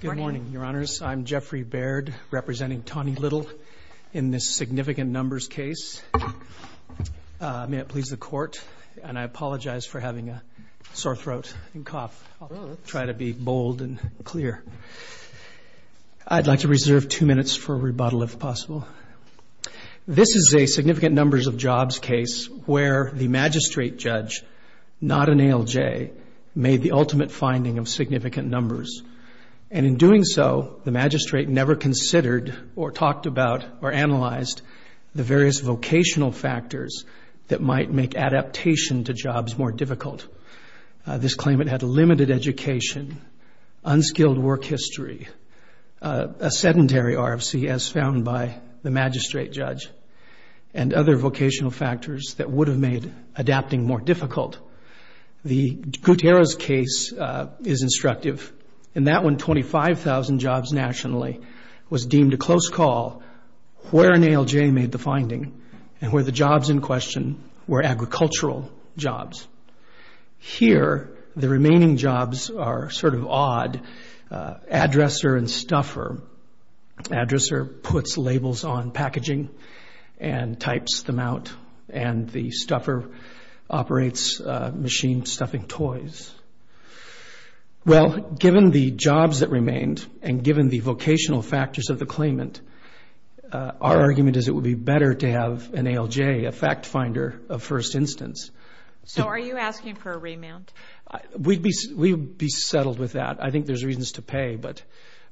Good morning, your honors. I'm Jeffrey Baird representing Tawny Little in this significant numbers case May it please the court and I apologize for having a sore throat and cough. I'll try to be bold and clear I'd like to reserve two minutes for a rebuttal if possible This is a significant numbers of jobs case where the magistrate judge Not an ALJ made the ultimate finding of significant numbers And in doing so the magistrate never considered or talked about or analyzed the various vocational factors That might make adaptation to jobs more difficult This claimant had a limited education unskilled work history a Sedentary RFC as found by the magistrate judge and other vocational factors that would have made adapting more difficult The Gutierrez case is instructive and that when 25,000 jobs nationally was deemed a close call Where an ALJ made the finding and where the jobs in question were agricultural jobs Here the remaining jobs are sort of odd addresser and stuffer addresser puts labels on packaging and types them out and the stuffer operates machine stuffing toys Well given the jobs that remained and given the vocational factors of the claimant Our argument is it would be better to have an ALJ a fact finder of first instance So are you asking for a remand? We'd be we'd be settled with that. I think there's reasons to pay but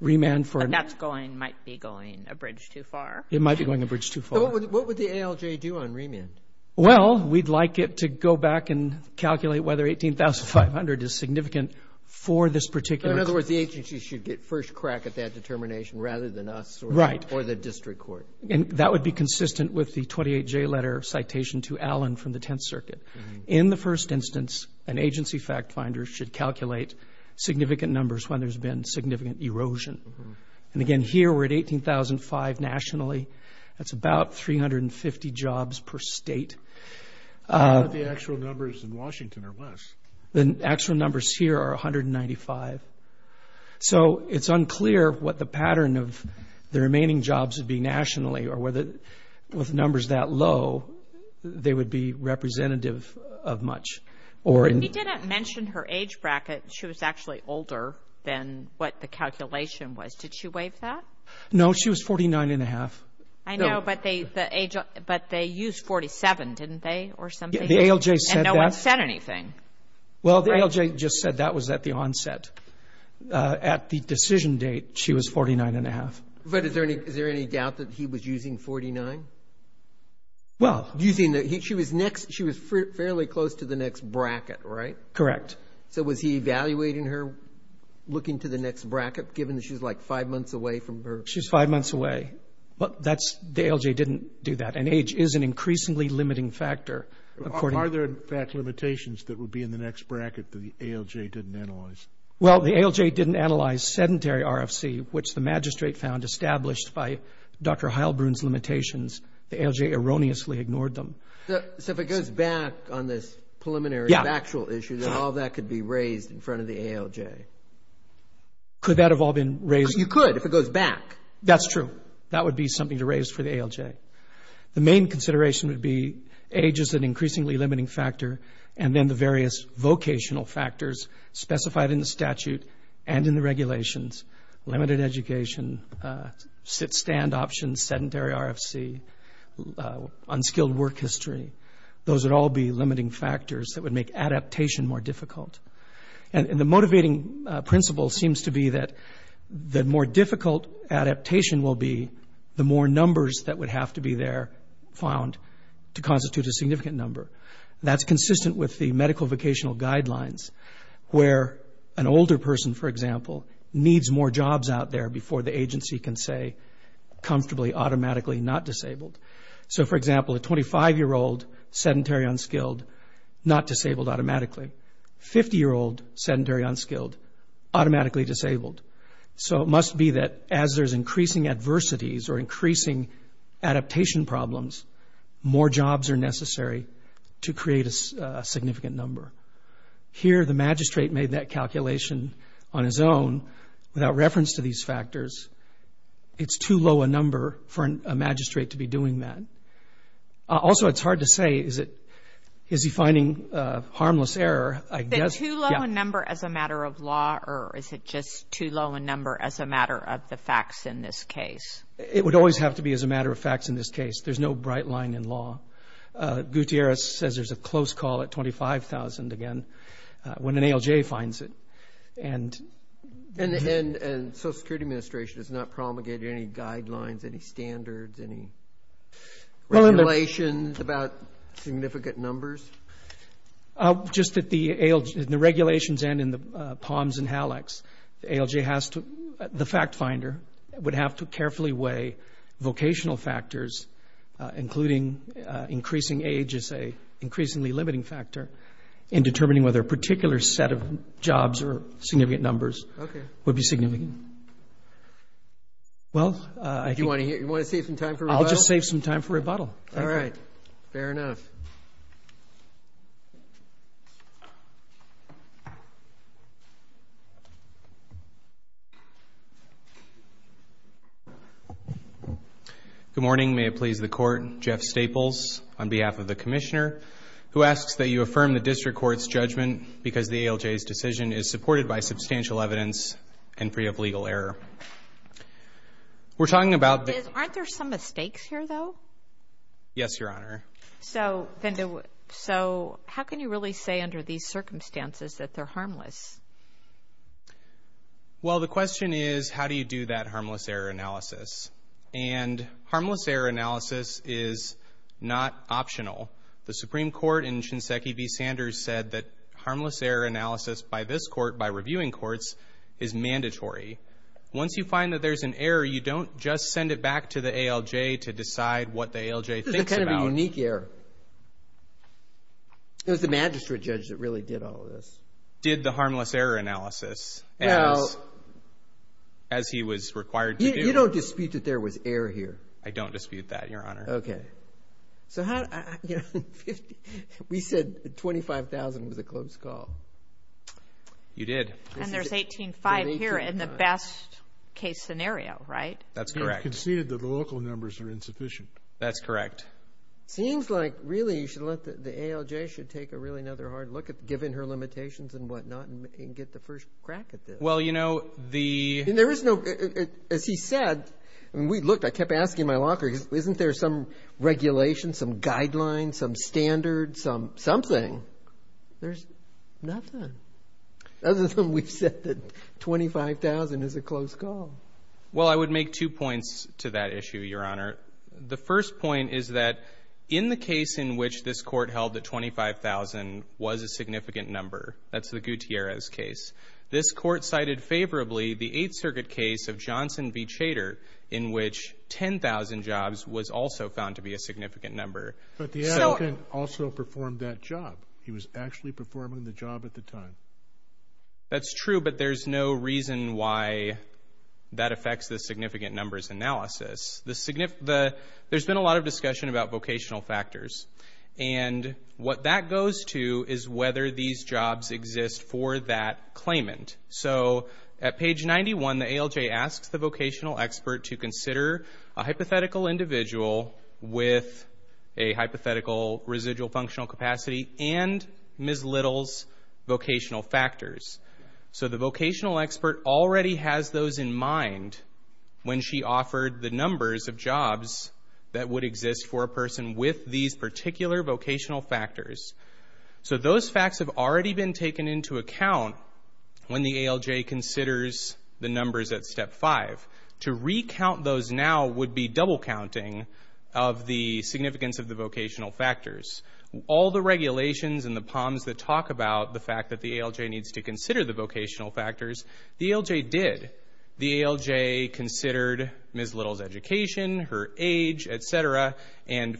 Remand for that's going might be going a bridge too far. It might be going a bridge to what would the ALJ do on remand? Well, we'd like it to go back and calculate whether eighteen thousand five hundred is significant for this particular In other words, the agency should get first crack at that determination rather than us, right? Or the district court and that would be consistent with the 28 J letter Citation to Allen from the Tenth Circuit in the first instance an agency fact finder should calculate Significant numbers when there's been significant erosion and again here. We're at eighteen thousand five nationally That's about three hundred and fifty jobs per state The actual numbers here are a hundred and ninety five So it's unclear what the pattern of the remaining jobs would be nationally or whether with numbers that low They would be representative of much or it didn't mention her age bracket She was actually older than what the calculation was. Did she waive that? No, she was forty nine and a half I know but they the age, but they used 47 didn't they or something? The ALJ said no one said anything Well, the ALJ just said that was at the onset At the decision date. She was forty nine and a half. But is there any is there any doubt that he was using 49? Well using that he she was next she was fairly close to the next bracket, right? Correct. So was he evaluating her? Looking to the next bracket given that she's like five months away from her. She's five months away But that's the ALJ didn't do that and age is an increasingly limiting factor According are there in fact limitations that would be in the next bracket to the ALJ didn't analyze Well, the ALJ didn't analyze sedentary RFC, which the magistrate found established by dr Heilbrunn's limitations the ALJ erroneously ignored them So if it goes back on this preliminary actual issue that all that could be raised in front of the ALJ Could that have all been raised you could if it goes back? That's true That would be something to raise for the ALJ The main consideration would be age is an increasingly limiting factor and then the various vocational factors specified in the statute and in the regulations limited education sit stand options sedentary RFC Unskilled work history. Those would all be limiting factors that would make adaptation more difficult and in the motivating principle seems to be that The more difficult Adaptation will be the more numbers that would have to be there found to constitute a significant number That's consistent with the medical vocational guidelines Where an older person for example needs more jobs out there before the agency can say Comfortably automatically not disabled. So for example a 25 year old sedentary unskilled not disabled automatically 50 year old sedentary unskilled Automatically disabled so it must be that as there's increasing adversities or increasing adaptation problems More jobs are necessary to create a significant number Here the magistrate made that calculation on his own without reference to these factors It's too low a number for a magistrate to be doing that Also, it's hard to say is it is he finding? Harmless error As a matter of law, or is it just too low a number as a matter of the facts in this case? It would always have to be as a matter of facts in this case. There's no bright line in law Gutierrez says there's a close call at 25,000 again when an ALJ finds it and And and and Social Security Administration is not promulgated any guidelines any standards any Regulations about significant numbers Just at the ALJ the regulations and in the palms and hallux ALJ has to the fact finder would have to carefully weigh vocational factors including Increasing age is a increasingly limiting factor in determining whether a particular set of jobs or significant numbers Would be significant Well, I do want to hear you want to save some time for I'll just save some time for rebuttal, all right fair enough Good morning May it please the court Jeff Staples on behalf of the Commissioner Who asks that you affirm the district courts judgment because the ALJ's decision is supported by substantial evidence and free of legal error We're talking about aren't there some mistakes here though Yes, your honor. So then so how can you really say under these circumstances that they're harmless? Well, the question is how do you do that harmless error analysis and harmless error analysis is Not optional the Supreme Court in Shinseki v. Sanders said that harmless error analysis by this court by reviewing courts is Mandatory once you find that there's an error You don't just send it back to the ALJ to decide what the ALJ thinks about unique air It was the magistrate judge that really did all this did the harmless error analysis, you know as He was required. You don't dispute that there was air here. I don't dispute that your honor. Okay so how We said 25,000 was a close call You did and there's 18 5 here in the best case scenario, right? That's correct You conceded that the local numbers are insufficient. That's correct Seems like really you should let the ALJ should take a really another hard look at giving her Limitations and whatnot and get the first crack at this Well, you know the there is no as he said and we looked I kept asking my locker isn't there some Regulations some guidelines some standards some something There's nothing Other than we've said that 25,000 is a close call. Well, I would make two points to that issue your honor The first point is that in the case in which this court held that 25,000 was a significant number That's the Gutierrez case this court cited favorably the 8th Circuit case of Johnson v. Chater in which 10,000 jobs was also found to be a significant number, but the elegant also performed that job He was actually performing the job at the time That's true. But there's no reason why that affects the significant numbers analysis the significant the there's been a lot of discussion about vocational factors and What that goes to is whether these jobs exist for that claimant? So at page 91 the ALJ asks the vocational expert to consider a hypothetical individual with a hypothetical residual functional capacity and Ms. Littles vocational factors So the vocational expert already has those in mind When she offered the numbers of jobs that would exist for a person with these particular vocational factors So those facts have already been taken into account When the ALJ considers the numbers at step 5 to recount those now would be double counting of the significance of the vocational factors All the regulations and the palms that talk about the fact that the ALJ needs to consider the vocational factors the ALJ did the ALJ considered Ms. Littles education her age, etc, and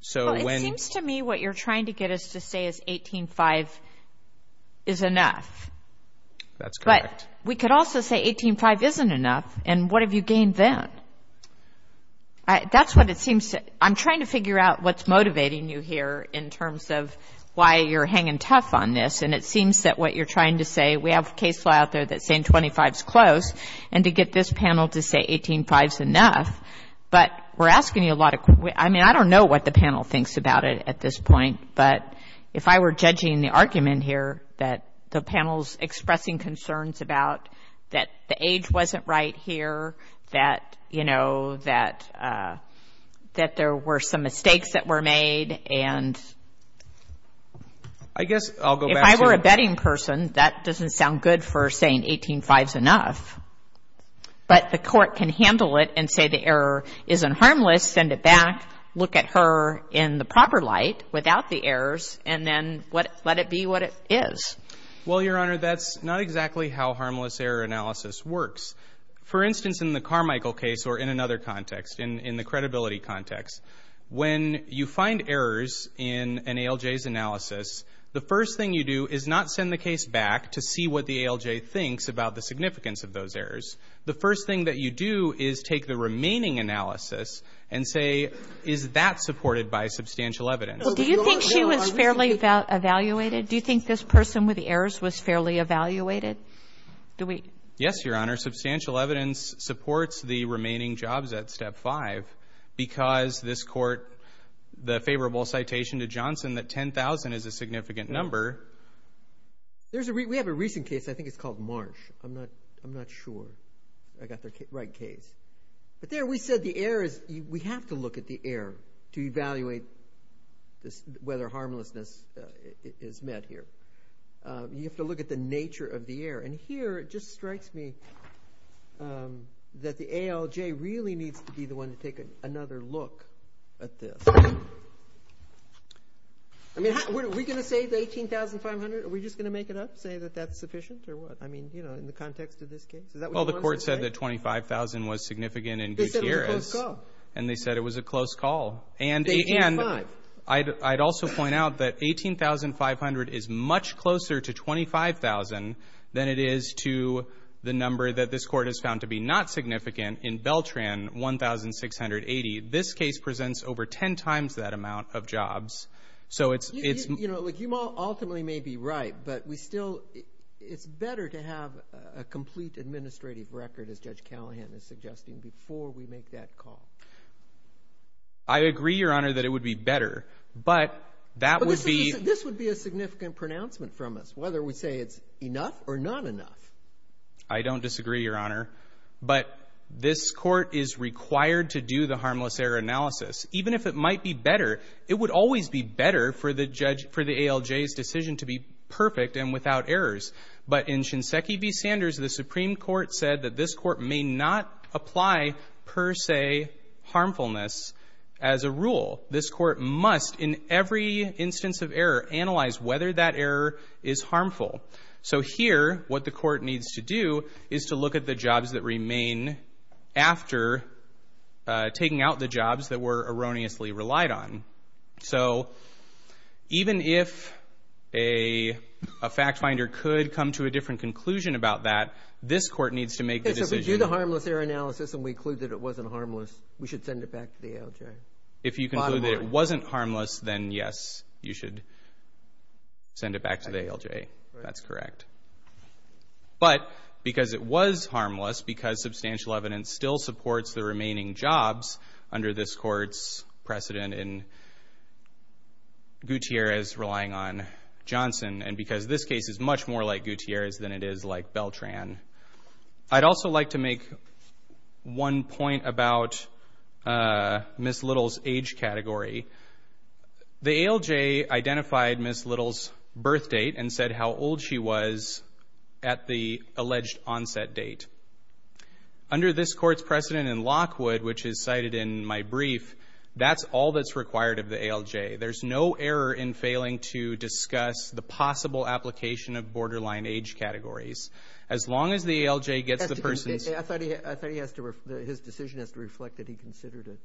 So when it seems to me what you're trying to get us to say is 18 5 is enough That's correct. We could also say 18 5 isn't enough. And what have you gained then? That's what it seems to I'm trying to figure out what's motivating you here in terms of why you're hanging tough on this and it Seems that what you're trying to say We have a case law out there that saying 25 is close and to get this panel to say 18 5 is enough But we're asking you a lot of I mean, I don't know what the panel thinks about it at this point But if I were judging the argument here that the panel's expressing concerns about that the age wasn't right here that you know that that there were some mistakes that were made and I Guess I'll go if I were a betting person that doesn't sound good for saying 18 fives enough But the court can handle it and say the error isn't harmless Send it back look at her in the proper light without the errors and then what let it be what it is Well, your honor, that's not exactly how harmless error analysis works For instance in the Carmichael case or in another context in in the credibility context when you find errors in an ALJ's Analysis, the first thing you do is not send the case back to see what the ALJ thinks about the significance of those errors The first thing that you do is take the remaining analysis and say is that supported by substantial evidence? Do you think she was fairly about evaluated? Do you think this person with the errors was fairly evaluated? Do we yes, your honor substantial evidence supports the remaining jobs at step 5 Because this court the favorable citation to Johnson that 10,000 is a significant number There's a we have a recent case. I think it's called March. I'm not I'm not sure I got their right case, but there we said the air is we have to look at the air to evaluate This whether harmlessness is met here You have to look at the nature of the air and here it just strikes me That the ALJ really needs to be the one to take another look at this I Mean we're gonna say the eighteen thousand five hundred are we just gonna make it up say that that's sufficient or what? Well, the court said that 25,000 was significant and here is and they said it was a close call and a and I'd also point out that 18,500 is much closer to 25,000 than it is to the number that this court has found to be not significant in Beltran 1680 this case presents over ten times that amount of jobs So it's it's you know, like you all ultimately may be right, but we still It's better to have a complete administrative record as judge Callahan is suggesting before we make that call I Agree your honor that it would be better But that would be this would be a significant pronouncement from us whether we say it's enough or not enough I don't disagree your honor But this court is required to do the harmless air analysis Even if it might be better It would always be better for the judge for the ALJ's decision to be perfect and without errors But in Shinseki v Sanders the Supreme Court said that this court may not apply per se Harmfulness as a rule this court must in every instance of error analyze whether that error is harmful So here what the court needs to do is to look at the jobs that remain after Taking out the jobs that were erroneously relied on so even if a Fact finder could come to a different conclusion about that this court needs to make this is you the harmless air analysis And we include that it wasn't harmless. We should send it back to the ALJ if you can it wasn't harmless then yes, you should Send it back to the ALJ. That's correct But because it was harmless because substantial evidence still supports the remaining jobs under this courts precedent in Gutierrez relying on Johnson and because this case is much more like Gutierrez than it is like Beltran I'd also like to make one point about Miss little's age category The ALJ identified miss little's birth date and said how old she was at the alleged onset date Under this courts precedent in Lockwood, which is cited in my brief. That's all that's required of the ALJ There's no error in failing to discuss the possible application of borderline age categories As long as the ALJ gets the persons His decision has to reflect that he considered it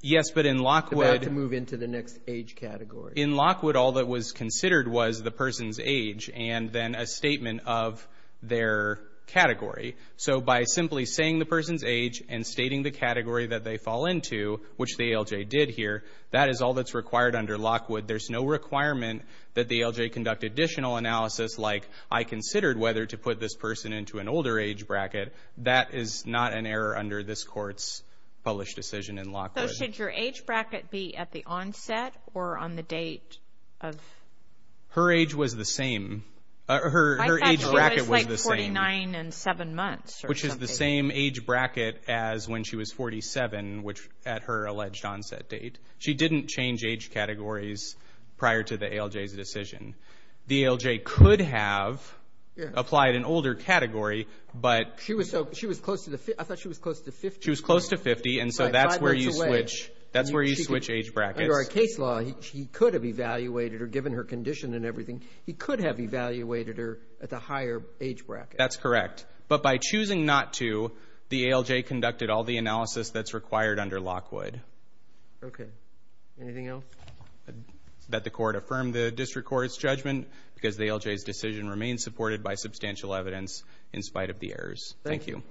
Yes, but in Lockwood to move into the next age category in Lockwood All that was considered was the person's age and then a statement of their Category so by simply saying the person's age and stating the category that they fall into which the ALJ did here That is all that's required under Lockwood There's no requirement that the ALJ conduct additional analysis Like I considered whether to put this person into an older age bracket. That is not an error under this court's Published decision in Lockwood. Should your age bracket be at the onset or on the date of? Her age was the same Her age was like 49 and seven months Which is the same age bracket as when she was 47 which at her alleged onset date She didn't change age categories prior to the ALJ's decision The ALJ could have Applied an older category, but she was so she was close to the I thought she was close to 50 She was close to 50. And so that's where you switch. That's where you switch age bracket or a case law He could have evaluated or given her condition and everything. He could have evaluated her at the higher age bracket That's correct. But by choosing not to the ALJ conducted all the analysis that's required under Lockwood Okay, anything else? That the court affirmed the district court's judgment because the ALJ's decision remains supported by substantial evidence in spite of the errors, thank you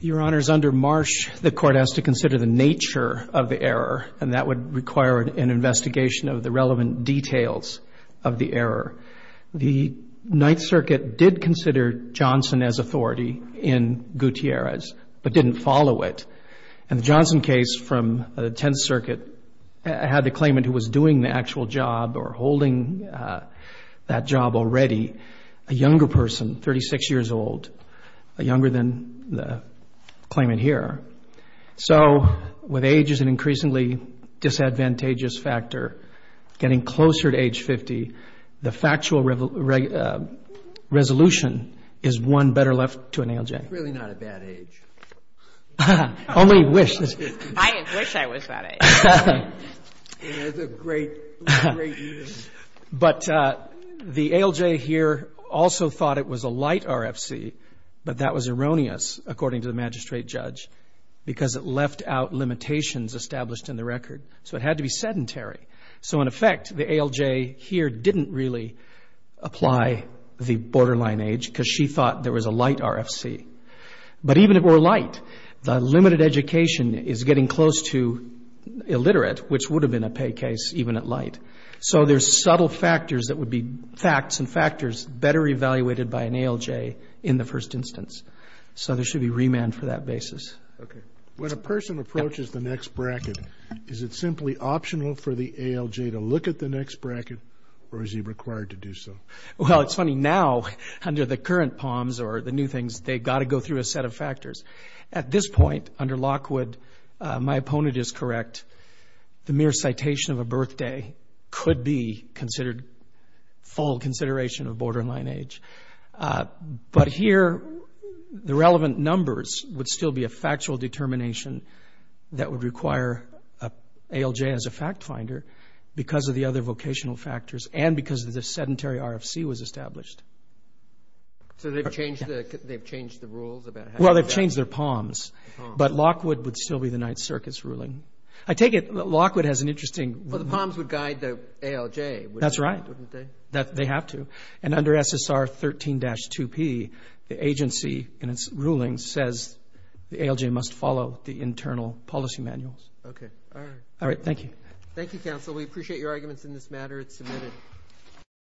Your honors under Marsh the court has to consider the nature of the error and that would require an investigation of the relevant details of the error the Ninth Circuit did consider Johnson as authority in Gutierrez, but didn't follow it and the Johnson case from the 10th Circuit Had the claimant who was doing the actual job or holding that job already a younger person 36 years old a younger than the claimant here So with age is an increasingly disadvantageous factor getting closer to age 50 the factual Resolution is one better left to an ALJ But The ALJ here also thought it was a light RFC But that was erroneous according to the magistrate judge because it left out limitations established in the record So it had to be sedentary. So in effect the ALJ here didn't really Apply the borderline age because she thought there was a light RFC But even if we're light the limited education is getting close to Illiterate which would have been a pay case even at light So there's subtle factors that would be facts and factors better evaluated by an ALJ in the first instance So there should be remand for that basis When a person approaches the next bracket Is it simply optional for the ALJ to look at the next bracket or is he required to do so? Well, it's funny now under the current palms or the new things They've got to go through a set of factors at this point under Lockwood My opponent is correct The mere citation of a birthday could be considered full consideration of borderline age but here the relevant numbers would still be a factual determination that would require a As a fact finder because of the other vocational factors and because of the sedentary RFC was established Well, they've changed their palms but Lockwood would still be the Ninth Circus ruling I take it Lockwood has an interesting Well, the palms would guide the ALJ. That's right wouldn't they that they have to and under SSR 13-2 P the agency and its ruling says The ALJ must follow the internal policy manuals All right. Thank you. Thank you counsel. We appreciate your arguments in this matter. It's submitted